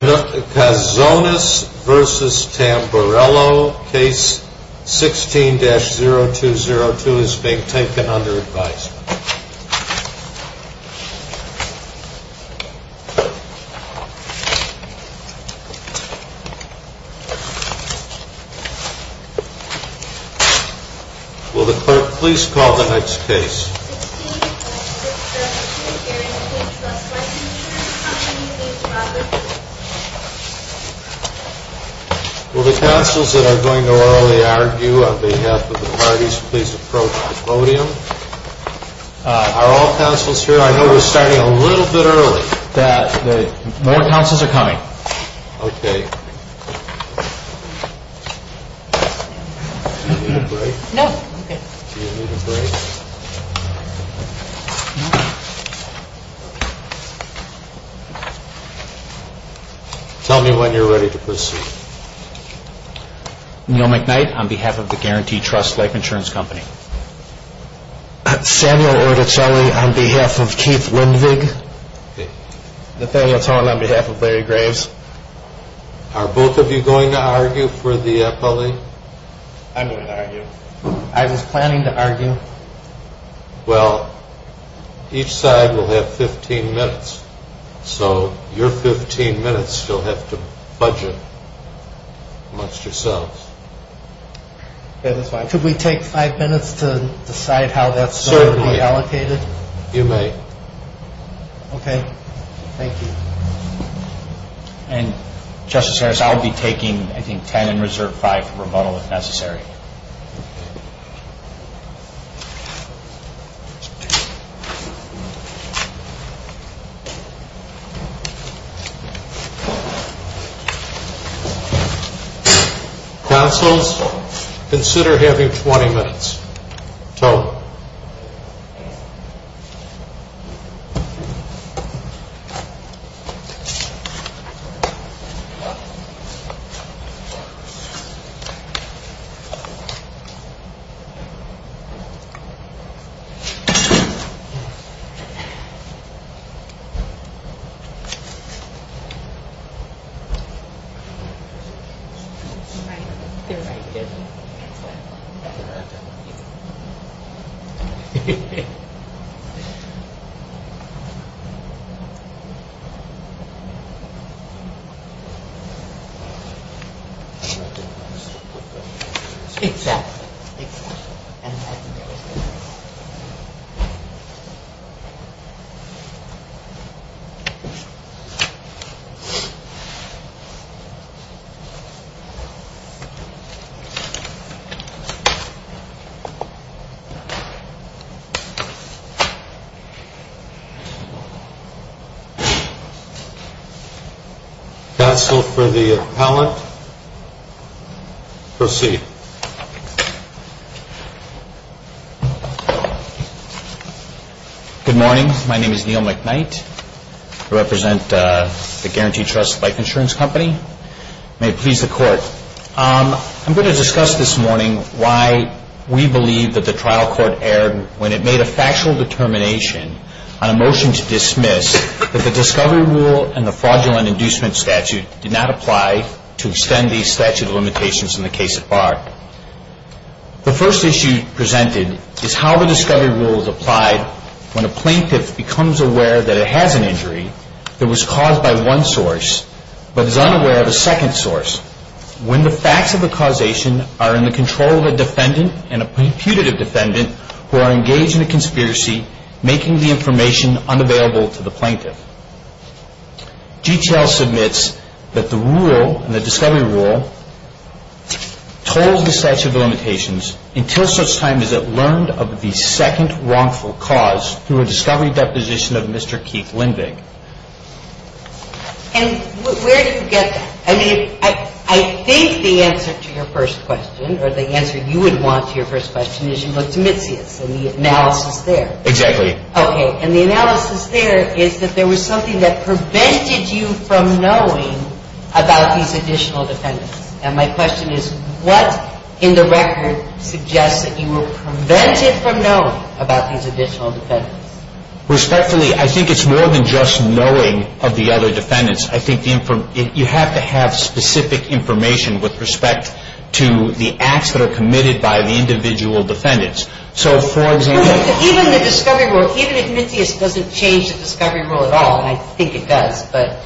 Kazonis v. Tamburello, Case 16-0202 is being taken under advisement. Will the Clerk please call the next case. Will the counsels that are going to orally argue on behalf of the parties please approach the podium. Are all counsels here? I know we're starting a little bit early. More counsels are coming. Tell me when you're ready to proceed. Neil McKnight on behalf of the Guarantee Trust Life Insurance Company. Samuel Orticelli on behalf of Keith Lindvig. Nathaniel Tone on behalf of Larry Graves. Are both of you going to argue for the appellee? I'm going to argue. I was planning to argue. Well, each side will have 15 minutes. So your 15 minutes you'll have to budget amongst yourselves. Could we take five minutes to decide how that's going to be allocated? Certainly. You may. Okay. Thank you. And, Justice Harris, I'll be taking, I think, ten and reserve five for rebuttal if necessary. Counsels, consider having 20 minutes. Tone. Thank you. Thank you. Counsel for the appellant, proceed. Thank you. Good morning. My name is Neil McKnight. I represent the Guarantee Trust Life Insurance Company. May it please the Court. I'm going to discuss this morning why we believe that the trial court erred when it made a factual determination on a motion to dismiss that the discovery rule and the fraudulent inducement statute did not apply to extend the statute of limitations in the case at bar. The first issue presented is how the discovery rule is applied when a plaintiff becomes aware that it has an injury that was caused by one source but is unaware of a second source. When the facts of the causation are in the control of a defendant and a punitive defendant who are engaged in a conspiracy, making the information unavailable to the plaintiff. GTL submits that the rule, the discovery rule, told the statute of limitations until such time as it learned of the second wrongful cause through a discovery deposition of Mr. Keith Lindvig. And where do you get that? I mean, I think the answer to your first question, or the answer you would want to your first question, is you look to Mitzias and the analysis there. Exactly. Okay. And the analysis there is that there was something that prevented you from knowing about these additional defendants. And my question is, what in the record suggests that you were prevented from knowing about these additional defendants? Respectfully, I think it's more than just knowing of the other defendants. I think you have to have specific information with respect to the acts that are committed by the individual defendants. So, for example. Even the discovery rule, even if Mitzias doesn't change the discovery rule at all, and I think it does, but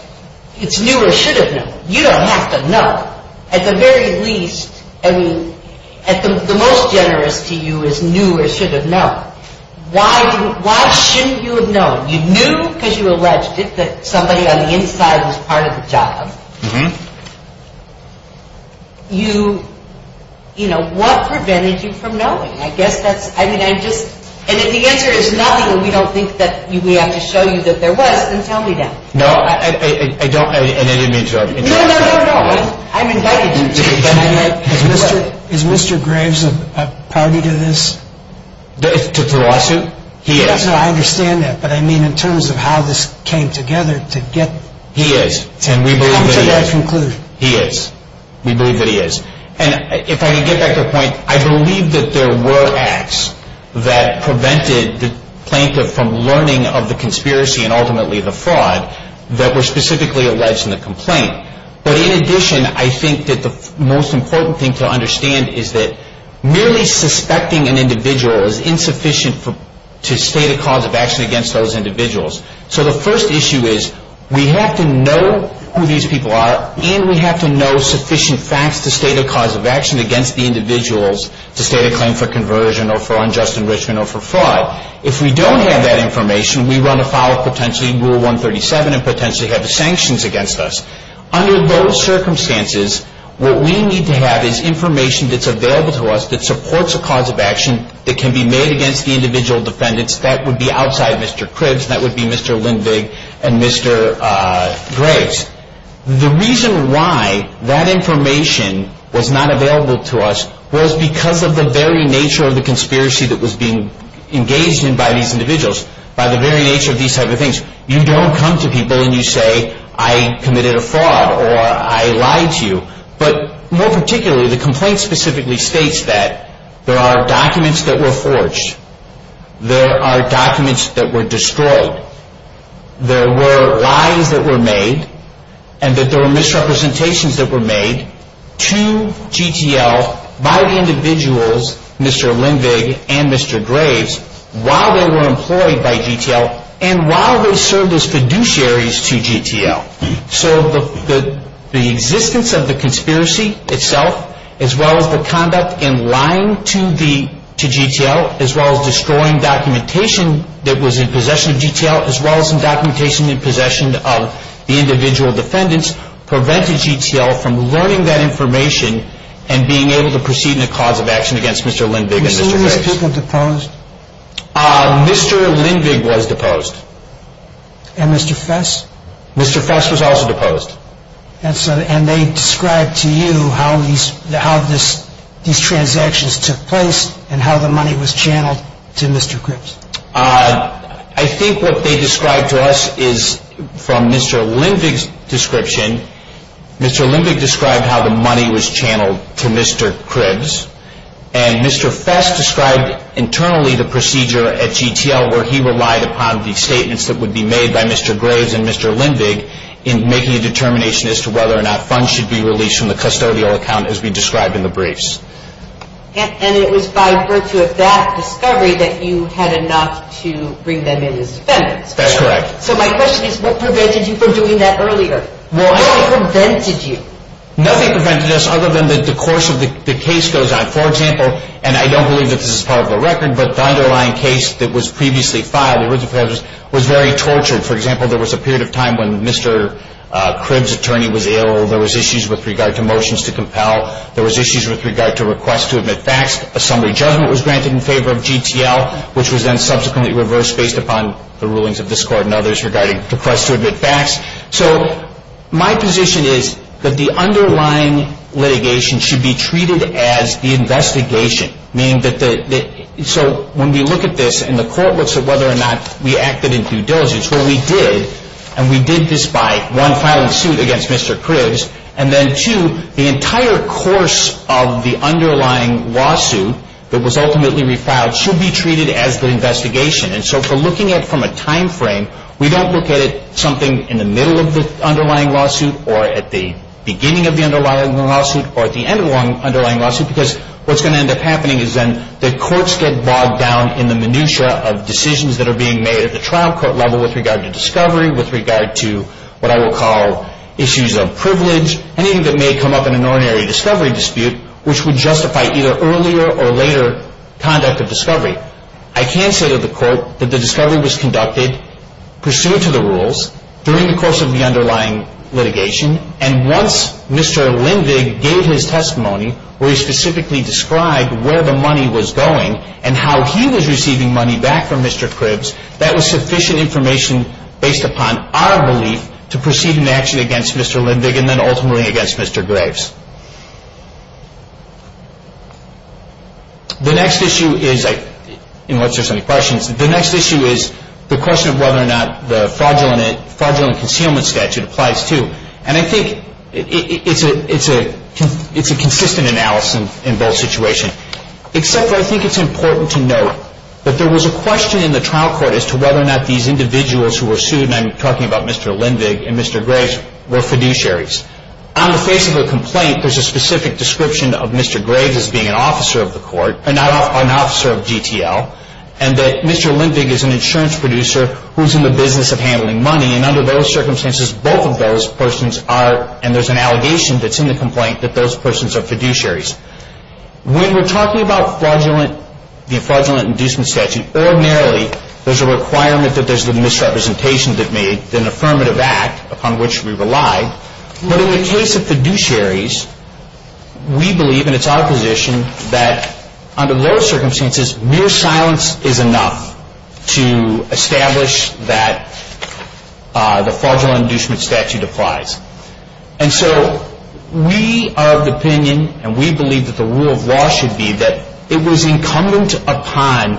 it's new or should have known. You don't have to know. At the very least, I mean, the most generous to you is new or should have known. Why shouldn't you have known? You knew because you alleged that somebody on the inside was part of the job. Mm-hmm. You, you know, what prevented you from knowing? I guess that's, I mean, I just, and if the answer is nothing and we don't think that we have to show you that there was, then tell me that. No, I don't, and I didn't mean to interrupt. No, no, no, no. I'm invited to. Is Mr. Graves a party to this? To the lawsuit? He is. No, no, no, I understand that, but I mean in terms of how this came together to get. He is, and we believe that he is. Come to that conclusion. He is. We believe that he is. And if I can get back to the point, I believe that there were acts that prevented the plaintiff from learning of the conspiracy and ultimately the fraud that were specifically alleged in the complaint. But in addition, I think that the most important thing to understand is that merely suspecting an individual is insufficient to state a cause of action against those individuals. So the first issue is we have to know who these people are and we have to know sufficient facts to state a cause of action against the individuals to state a claim for conversion or for unjust enrichment or for fraud. If we don't have that information, we run afoul of potentially Rule 137 and potentially have sanctions against us. Under those circumstances, what we need to have is information that's available to us that supports a cause of action that can be made against the individual defendants. That would be outside Mr. Cribbs. That would be Mr. Lindvig and Mr. Graves. The reason why that information was not available to us was because of the very nature of the conspiracy that was being engaged in by these individuals, by the very nature of these type of things. You don't come to people and you say, I committed a fraud or I lied to you. But more particularly, the complaint specifically states that there are documents that were forged. There are documents that were destroyed. There were lies that were made and that there were misrepresentations that were made to GTL by the individuals, Mr. Lindvig and Mr. Graves, while they were employed by GTL and while they served as fiduciaries to GTL. So the existence of the conspiracy itself, as well as the conduct in lying to GTL, as well as destroying documentation that was in possession of GTL, as well as documentation in possession of the individual defendants, prevented GTL from learning that information and being able to proceed in a cause of action against Mr. Lindvig and Mr. Graves. Were some of these people deposed? Mr. Lindvig was deposed. And Mr. Fess? Mr. Fess was also deposed. And they described to you how these transactions took place and how the money was channeled to Mr. Cribbs? I think what they described to us is from Mr. Lindvig's description, Mr. Lindvig described how the money was channeled to Mr. Cribbs and Mr. Fess described internally the procedure at GTL where he relied upon the statements that would be made by Mr. Graves and Mr. Lindvig in making a determination as to whether or not funds should be released from the custodial account as we described in the briefs. And it was by virtue of that discovery that you had enough to bring them in as defendants? That's correct. So my question is what prevented you from doing that earlier? What prevented you? Nothing prevented us other than the course of the case goes on. For example, and I don't believe that this is part of the record, but the underlying case that was previously filed, the original case, was very tortured. For example, there was a period of time when Mr. Cribbs' attorney was ill. There was issues with regard to motions to compel. There was issues with regard to requests to admit facts. A summary judgment was granted in favor of GTL, which was then subsequently reversed based upon the rulings of this court and others regarding requests to admit facts. So my position is that the underlying litigation should be treated as the investigation, meaning that the – so when we look at this and the court looks at whether or not we acted in due diligence, what we did, and we did this by, one, filing suit against Mr. Cribbs, and then, two, the entire course of the underlying lawsuit that was ultimately refiled should be treated as the investigation. And so if we're looking at it from a timeframe, we don't look at it something in the middle of the underlying lawsuit or at the beginning of the underlying lawsuit or at the end of the underlying lawsuit because what's going to end up happening is then the courts get bogged down in the minutia of decisions that are being made at the trial court level with regard to discovery, with regard to what I will call issues of privilege, anything that may come up in an ordinary discovery dispute, which would justify either earlier or later conduct of discovery. I can say to the court that the discovery was conducted, pursued to the rules, during the course of the underlying litigation, and once Mr. Lindvig gave his testimony where he specifically described where the money was going and how he was receiving money back from Mr. Cribbs, that was sufficient information based upon our belief to proceed in action against Mr. Lindvig and then ultimately against Mr. Graves. The next issue is, unless there's any questions, the next issue is the question of whether or not the fraudulent concealment statute applies too. And I think it's a consistent analysis in both situations, except I think it's important to note that there was a question in the trial court as to whether or not these individuals who were sued, and I'm talking about Mr. Lindvig and Mr. Graves, were fiduciaries. On the face of the complaint, there's a specific description of Mr. Graves as being an officer of the court, an officer of GTL, and that Mr. Lindvig is an insurance producer who's in the business of handling money, and under those circumstances, both of those persons are, and there's an allegation that's in the complaint that those persons are fiduciaries. When we're talking about the fraudulent inducement statute, ordinarily there's a requirement that there's a misrepresentation that made an affirmative act upon which we rely, but in the case of fiduciaries, we believe, and it's our position, that under those circumstances mere silence is enough to establish that the fraudulent inducement statute applies. And so we are of the opinion, and we believe that the rule of law should be that it was incumbent upon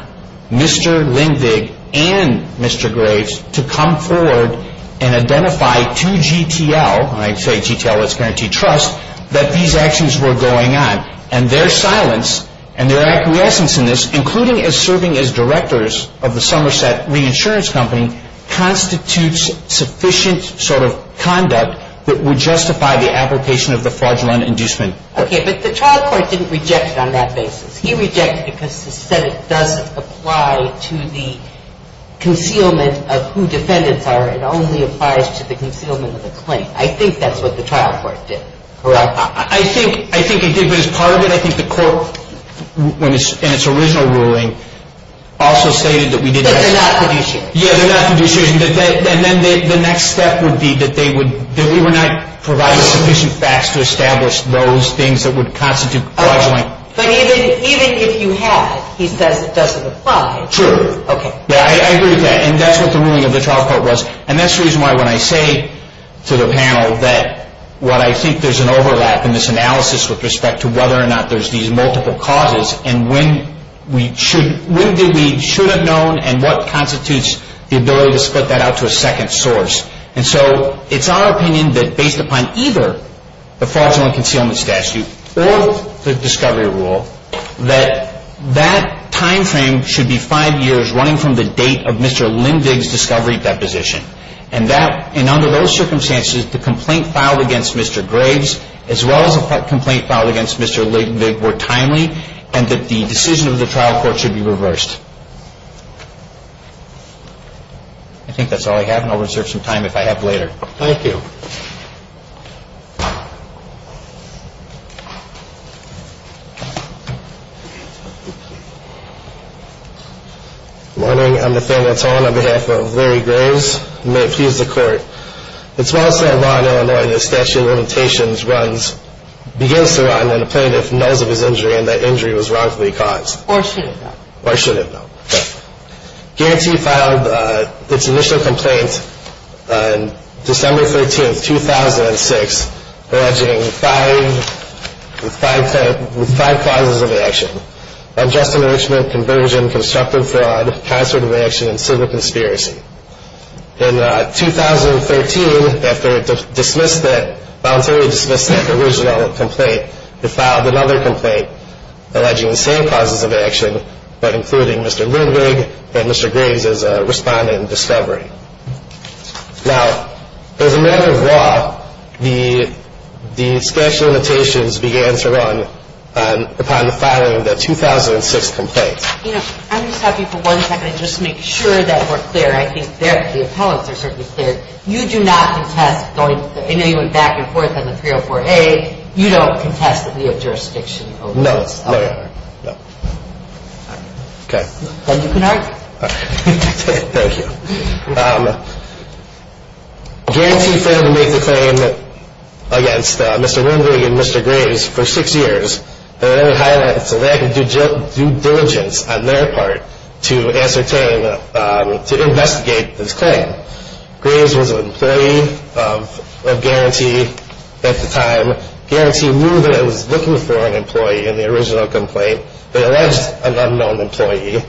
Mr. Lindvig and Mr. Graves to come forward and identify to GTL, and I say GTL, let's guarantee trust, that these actions were going on, and their silence and their acquiescence in this, including as serving as directors of the Somerset Reinsurance Company, constitutes sufficient sort of conduct that would justify the application of the fraudulent inducement. Okay, but the trial court didn't reject it on that basis. He rejected it because he said it doesn't apply to the concealment of who defendants are. It only applies to the concealment of the claim. I think that's what the trial court did, correct? I think it did, but as part of it, I think the court, in its original ruling, also stated that we did not. That they're not fiduciaries. Yeah, they're not fiduciaries, and then the next step would be that they would, that we were not providing sufficient facts to establish those things that would constitute fraudulent. Okay, but even if you had, he says it doesn't apply. True. Okay. Yeah, I agree with that, and that's what the ruling of the trial court was, and that's the reason why when I say to the panel that what I think there's an overlap in this analysis with respect to whether or not there's these multiple causes, and when we should, when did we should have known, and what constitutes the ability to split that out to a second source. And so it's our opinion that based upon either the fraudulent concealment statute or the discovery rule, that that timeframe should be five years running from the date of Mr. Lindvig's discovery deposition. And that, and under those circumstances, the complaint filed against Mr. Graves, as well as a complaint filed against Mr. Lindvig, were timely, and that the decision of the trial court should be reversed. I think that's all I have, and I'll reserve some time if I have later. Sure. Thank you. Good morning. I'm Nathaniel Tone on behalf of Larry Graves. May it please the Court. It's my understanding that a lawyer, when a statute of limitations runs, begins to run when a plaintiff knows of his injury and that injury was wrongfully caused. Or should have. Or should have. I don't know. Okay. Guarantee filed its initial complaint on December 13, 2006, alleging five, with five clauses of action. Unjust enrichment, conversion, constructive fraud, concert of action, and civil conspiracy. In 2013, after it dismissed that, voluntarily dismissed that original complaint, it filed another complaint alleging the same clauses of action, but including Mr. Lindvig and Mr. Graves' respondent discovery. Now, as a matter of law, the statute of limitations began to run upon the filing of that 2006 complaint. You know, I'm just happy for one second just to make sure that we're clear. I think the appellants are certainly clear. You do not contest going back and forth on the 304A. You don't contest that we have jurisdiction over this. No, no, no. Okay. Thank you, Bernard. Thank you. Guarantee failed to make the claim against Mr. Lindvig and Mr. Graves for six years. And then it highlights a lack of due diligence on their part to ascertain, to investigate this claim. Graves was an employee of Guarantee at the time. Guarantee knew that it was looking for an employee in the original complaint, but alleged an unknown employee.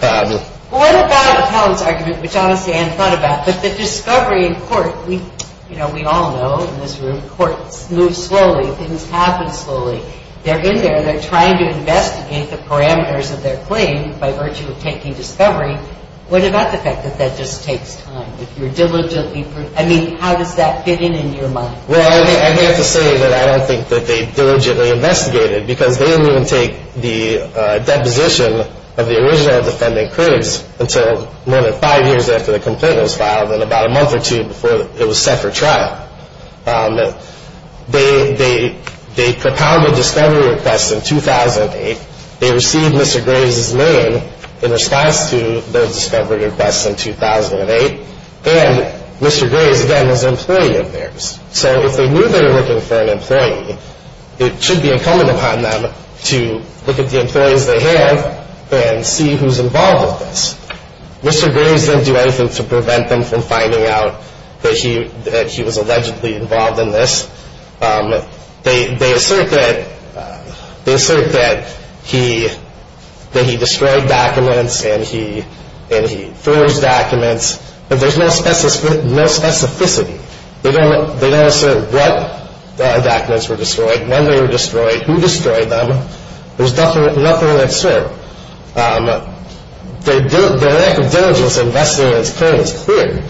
Well, what about the appellant's argument, which honestly I hadn't thought about, but the discovery in court? You know, we all know in this room, courts move slowly. Things happen slowly. They're in there. They're trying to investigate the parameters of their claim by virtue of taking discovery. What about the fact that that just takes time? If you're diligently – I mean, how does that fit in in your mind? Well, I have to say that I don't think that they diligently investigated because they didn't even take the deposition of the original defending critics until more than five years after the complaint was filed and about a month or two before it was set for trial. They compounded discovery requests in 2008. They received Mr. Graves' name in response to those discovery requests in 2008, and Mr. Graves, again, was an employee of theirs. So if they knew they were looking for an employee, it should be incumbent upon them to look at the employees they have and see who's involved with this. Mr. Graves didn't do anything to prevent them from finding out that he was allegedly involved in this. They assert that he destroyed documents and he forged documents, but there's no specificity. They don't assert what documents were destroyed, when they were destroyed, who destroyed them. There's nothing to assert. Their lack of diligence in investigating this claim is clear.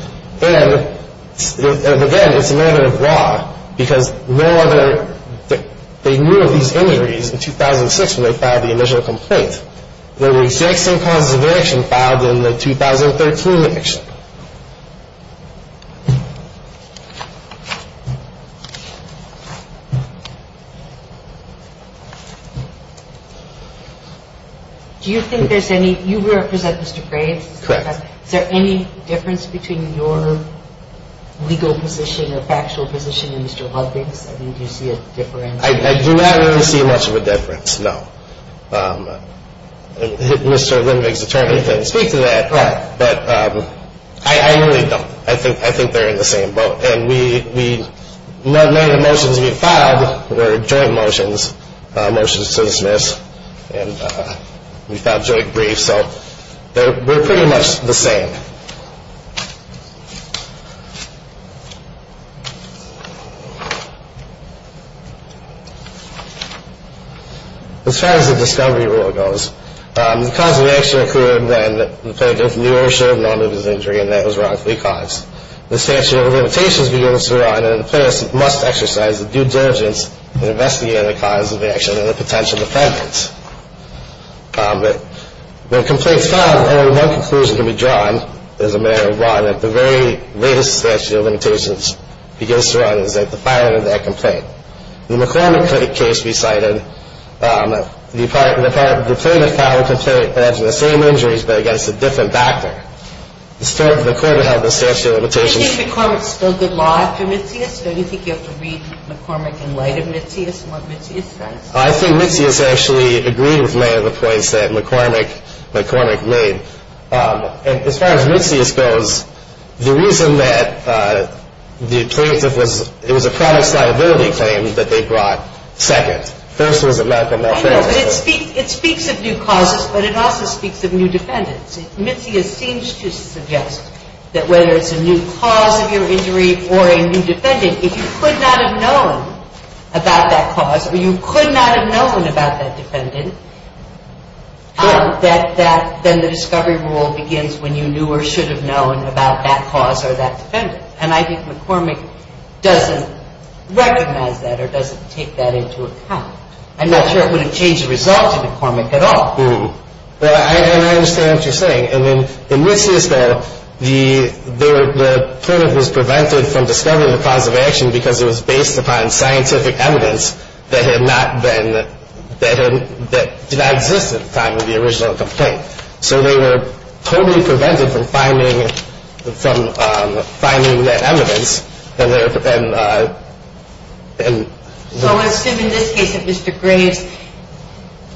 And, again, it's a matter of law because no other – they knew of these injuries in 2006 when they filed the initial complaint. There were the exact same causes of eviction filed in the 2013 eviction. Do you think there's any – you represent Mr. Graves. Correct. Is there any difference between your legal position or factual position and Mr. Ludwig's? I mean, do you see a difference? I do not really see much of a difference, no. Mr. Ludwig's attorney couldn't speak to that. Right. But I really don't. I think they're in the same boat. And we – many of the motions we filed were joint motions, motions to dismiss. And we filed joint briefs. So they're pretty much the same. As far as the discovery rule goes, the cause of eviction occurred when the plaintiff knew or should have known of his injury and that it was wrongfully caused. The statute of limitations begins to draw in and the plaintiff must exercise due diligence in investigating the cause of eviction and the potential defendants. But when complaints are filed, only one conclusion can be drawn as a matter of law that the very latest statute of limitations begins to run, and it's that the filing of that complaint. In the McCormick case we cited, the plaintiff filed a complaint against the same injuries but against a different doctor. The court had held the statute of limitations. Do you think McCormick's still good law after Mitzias? Don't you think you have to read McCormick in light of Mitzias and what Mitzias says? I think Mitzias actually agreed with many of the points that McCormick made. And as far as Mitzias goes, the reason that the plaintiff was – it was a product liability claim that they brought second. First was a medical malpractice claim. But it speaks of new causes, but it also speaks of new defendants. Mitzias seems to suggest that whether it's a new cause of your injury or a new defendant, if you could not have known about that cause or you could not have known about that defendant, that then the discovery rule begins when you knew or should have known about that cause or that defendant. And I think McCormick doesn't recognize that or doesn't take that into account. I'm not sure it would have changed the result to McCormick at all. I understand what you're saying. And then in Mitzias' battle, the plaintiff was prevented from discovering the cause of action because it was based upon scientific evidence that had not been – that did not exist at the time of the original complaint. So they were totally prevented from finding that evidence. So I would assume in this case that Mr. Graves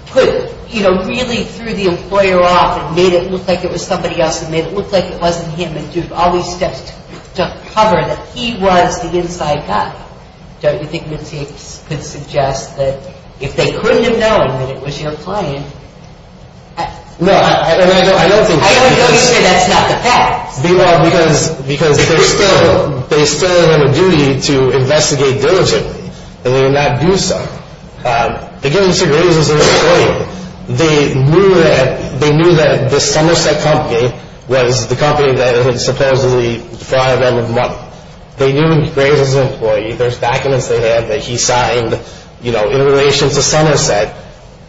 put – you know, really threw the employer off and made it look like it was somebody else and made it look like it wasn't him and took all these steps to cover that he was the inside guy. Don't you think Mitzias could suggest that if they couldn't have known that it was your client – No, and I don't think – I don't know you say that's not the fact. Because they still have a duty to investigate diligently, and they did not do so. Again, Mr. Graves was an employee. They knew that the Somerset Company was the company that had supposedly fired them a month. They knew Graves was an employee. There's documents they had that he signed, you know, in relation to Somerset.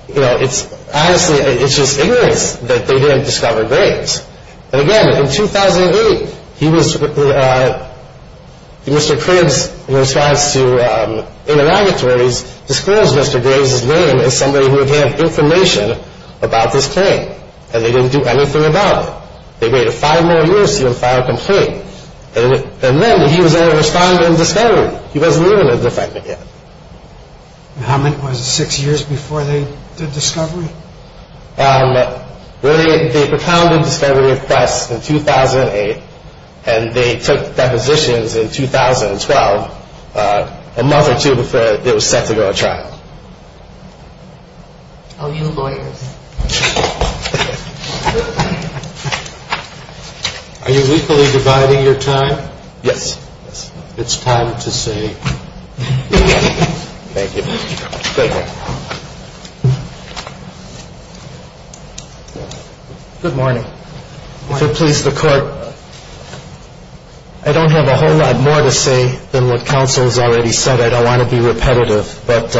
You know, it's – honestly, it's just ignorance that they didn't discover Graves. And again, in 2008, he was – Mr. Cribbs, in response to interrogatories, disclosed Mr. Graves' name as somebody who would have information about this claim. And they didn't do anything about it. They waited five more years to even file a complaint. And then he was able to respond in discovery. He wasn't even a defendant yet. And how many – was it six years before they did discovery? They recounted discovery requests in 2008, and they took depositions in 2012, a month or two before it was set to go to trial. Are you lawyers? Are you equally dividing your time? Yes. It's time to say yes. Thank you. Good morning. If it pleases the Court, I don't have a whole lot more to say than what counsel has already said. I don't want to be repetitive. But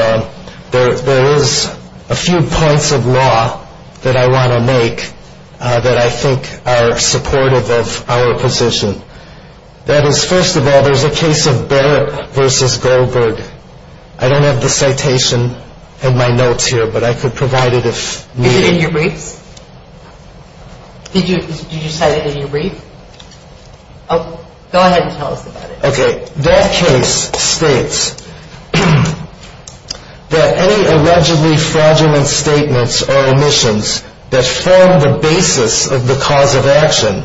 there is a few points of law that I want to make that I think are supportive of our position. That is, first of all, there's a case of Barrett v. Goldberg. I don't have the citation in my notes here, but I could provide it if needed. Is it in your briefs? Did you cite it in your brief? Go ahead and tell us about it. Okay. That case states that any allegedly fraudulent statements or omissions that form the basis of the cause of action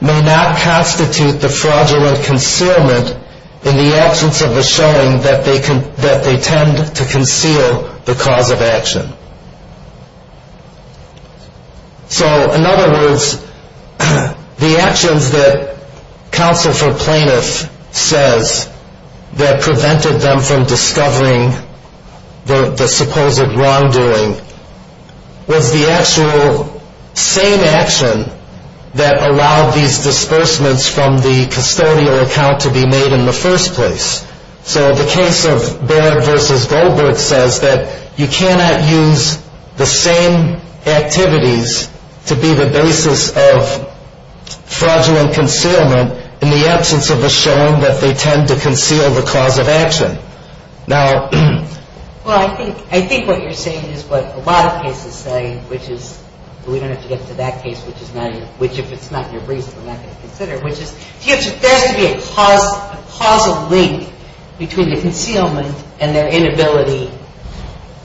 may not constitute the fraudulent concealment in the absence of the showing that they tend to conceal the cause of action. So, in other words, the actions that counsel for plaintiffs says that prevented them from discovering the supposed wrongdoing was the actual same action that allowed these disbursements from the custodial account to be made in the first place. So the case of Barrett v. Goldberg says that you cannot use the same activities to be the basis of fraudulent concealment in the absence of the showing that they tend to conceal the cause of action. Well, I think what you're saying is what a lot of cases say, which is we don't have to get to that case, which if it's not in your briefs we're not going to consider, which is there has to be a causal link between the concealment and their inability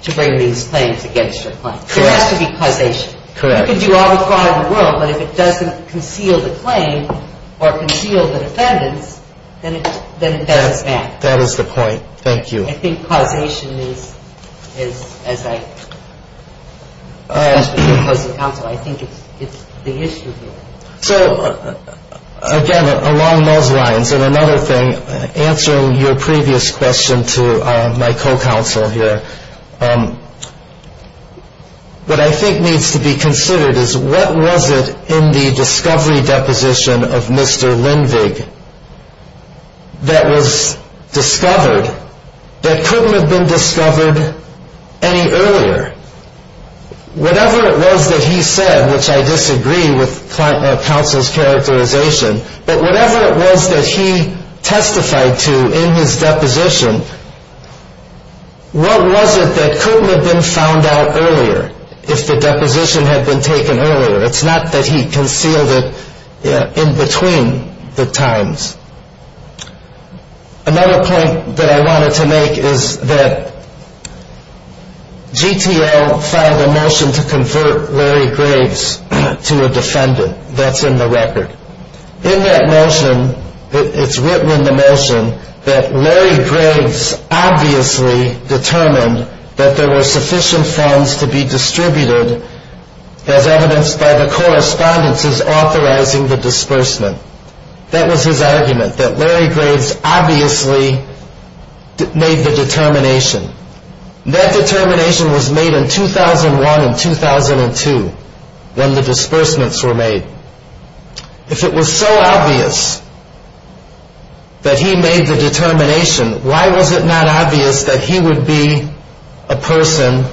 to bring these claims against their claims. Correct. There has to be causation. Correct. You can do all the fraud in the world, but if it doesn't conceal the claim or conceal the defendants, then it doesn't stand. That is the point. Thank you. I think causation is, as I discussed with your co-counsel, I think it's the issue here. So, again, along those lines, and another thing, answering your previous question to my co-counsel here, what I think needs to be considered is what was it in the discovery deposition of Mr. Lindvig that was discovered that couldn't have been discovered any earlier? Whatever it was that he said, which I disagree with counsel's characterization, but whatever it was that he testified to in his deposition, what was it that couldn't have been found out earlier if the deposition had been taken earlier? It's not that he concealed it in between the times. Another point that I wanted to make is that GTL filed a motion to convert Larry Graves to a defendant. That's in the record. In that motion, it's written in the motion that Larry Graves obviously determined that there were sufficient funds to be distributed as evidenced by the correspondences authorizing the disbursement. That was his argument, that Larry Graves obviously made the determination. That determination was made in 2001 and 2002 when the disbursements were made. If it was so obvious that he made the determination, why was it not obvious that he would be a person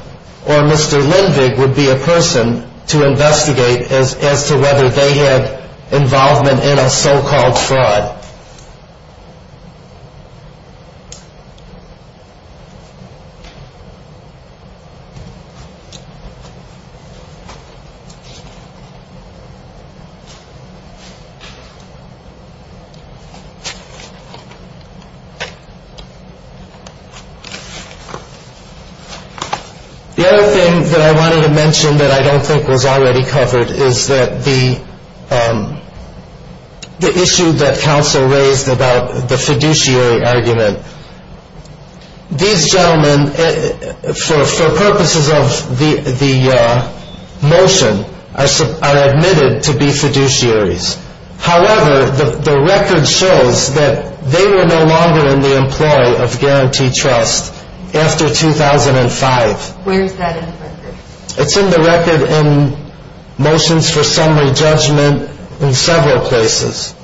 or Mr. Lindvig would be a person to investigate as to whether they had involvement in a so-called fraud? The other thing that I wanted to mention that I don't think was already covered is that the issue that counsel had raised in his testimony about the fiduciary argument. These gentlemen, for purposes of the motion, are admitted to be fiduciaries. However, the record shows that they were no longer in the employ of Guaranteed Trust after 2005. Where is that in the record? It's in the record in Motions for Summary Judgment in several places.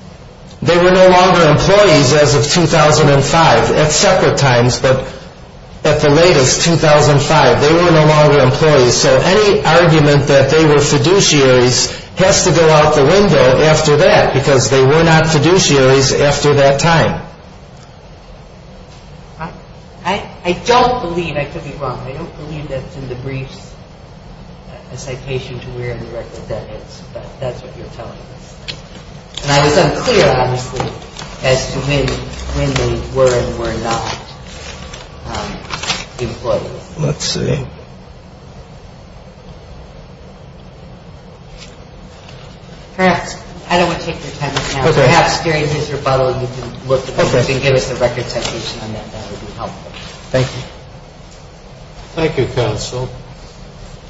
They were no longer employees as of 2005 at separate times. But at the latest, 2005, they were no longer employees. So any argument that they were fiduciaries has to go out the window after that because they were not fiduciaries after that time. I don't believe, I could be wrong, I don't believe that's in the briefs, a citation to where in the record that is. But that's what you're telling us. And I was unclear, obviously, as to when they were and were not employees. Let's see. Perhaps, I don't want to take your time right now. Perhaps during his rebuttal you can look at that and give us the record citation on that. That would be helpful. Thank you.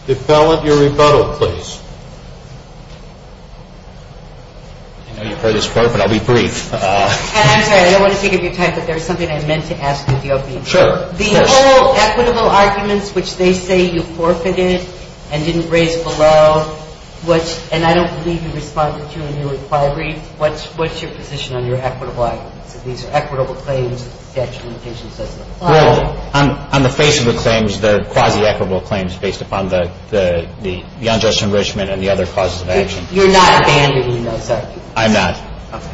Defendant, your rebuttal, please. I know you've heard this before, but I'll be brief. I'm sorry, I don't want to take up your time, but there's something I meant to ask of you. Sure. The whole equitable arguments, which they say you forfeited and didn't raise below, and I don't believe you responded to a new inquiry, what's your position on your equitable arguments? These are equitable claims, the actual citation says they're plausible. Well, on the face of the claims, they're quasi-equitable claims based upon the unjust enrichment and the other causes of action. You're not abandoning those, are you? I'm not. Okay.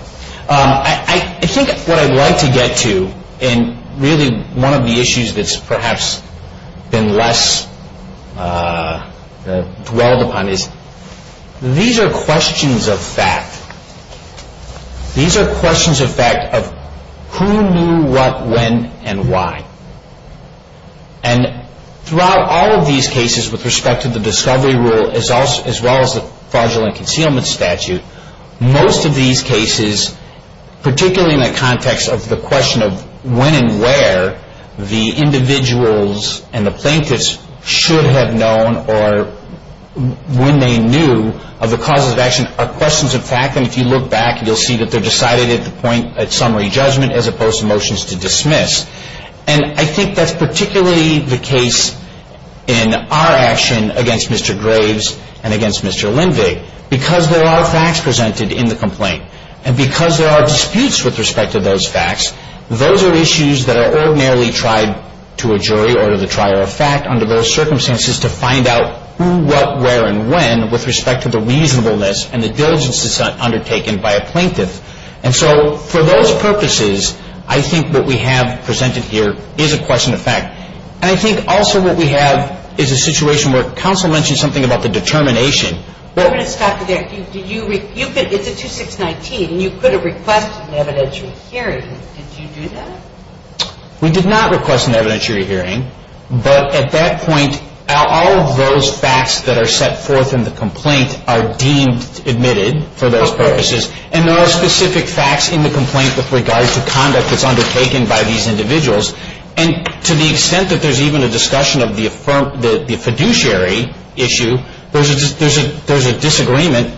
I think what I'd like to get to in really one of the issues that's perhaps been less dwelled upon is these are questions of fact. These are questions of fact of who knew what, when, and why. And throughout all of these cases with respect to the discovery rule as well as the fraudulent concealment statute, most of these cases, particularly in the context of the question of when and where, the individuals and the plaintiffs should have known or when they knew of the causes of action, are questions of fact. And if you look back, you'll see that they're decided at the point of summary judgment as opposed to motions to dismiss. And I think that's particularly the case in our action against Mr. Graves and against Mr. Lindvig because there are facts presented in the complaint. And because there are disputes with respect to those facts, those are issues that are ordinarily tried to a jury or to the trier of fact under those circumstances to find out who, what, where, and when with respect to the reasonableness and the diligence that's undertaken by a plaintiff. And so for those purposes, I think what we have presented here is a question of fact. And I think also what we have is a situation where counsel mentioned something about the determination. I'm going to stop you there. It's a 2619, and you could have requested an evidentiary hearing. Did you do that? We did not request an evidentiary hearing. But at that point, all of those facts that are set forth in the complaint are deemed admitted for those purposes. And there are specific facts in the complaint with regards to conduct that's undertaken by these individuals. And to the extent that there's even a discussion of the fiduciary issue, there's a disagreement,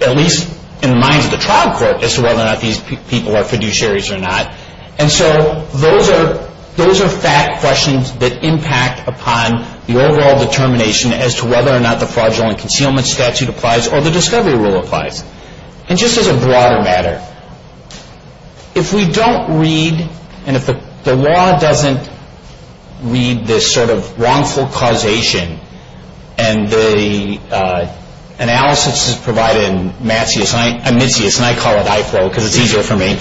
at least in the minds of the trial court, as to whether or not these people are fiduciaries or not. And so those are fact questions that impact upon the overall determination as to whether or not the fraudulent concealment statute applies or the discovery rule applies. And just as a broader matter, if we don't read, and if the law doesn't read this sort of wrongful causation, and the analysis is provided in Matsius, and I call it IFLO because it's easier for me.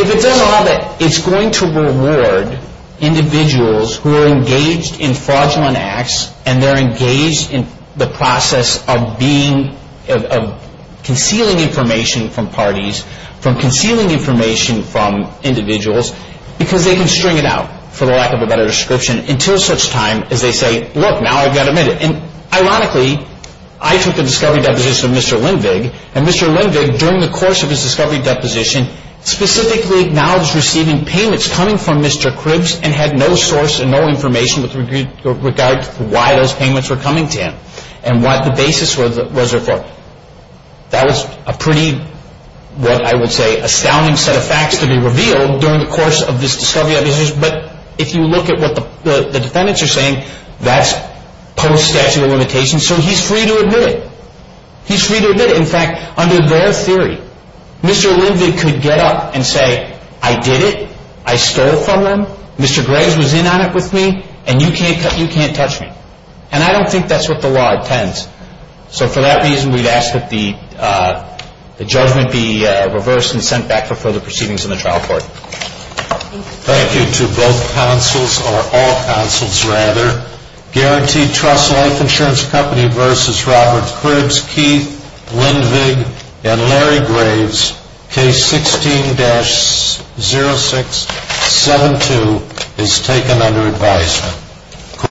If it's in law, it's going to reward individuals who are engaged in fraudulent acts and they're engaged in the process of being, of concealing information from parties, from concealing information from individuals, because they can string it out, for the lack of a better description, until such time as they say, look, now I've got admitted. And ironically, I took the discovery deposition of Mr. Lindvig, and Mr. Lindvig, during the course of his discovery deposition, specifically acknowledged receiving payments coming from Mr. Kribs and had no source and no information with regard to why those payments were coming to him and what the basis was there for. That was a pretty, what I would say, astounding set of facts to be revealed during the course of this discovery deposition. But if you look at what the defendants are saying, that's post-statute of limitations, so he's free to admit it. He's free to admit it. In fact, under their theory, Mr. Lindvig could get up and say, I did it. I stole from them. Mr. Graves was in on it with me, and you can't touch me. And I don't think that's what the law intends. So for that reason, we'd ask that the judgment be reversed and sent back for further proceedings in the trial court. Thank you to both counsels, or all counsels rather, Guaranteed Trust Life Insurance Company v. Robert Kribs, Keith Lindvig, and Larry Graves. Case 16-0672 is taken under advisement.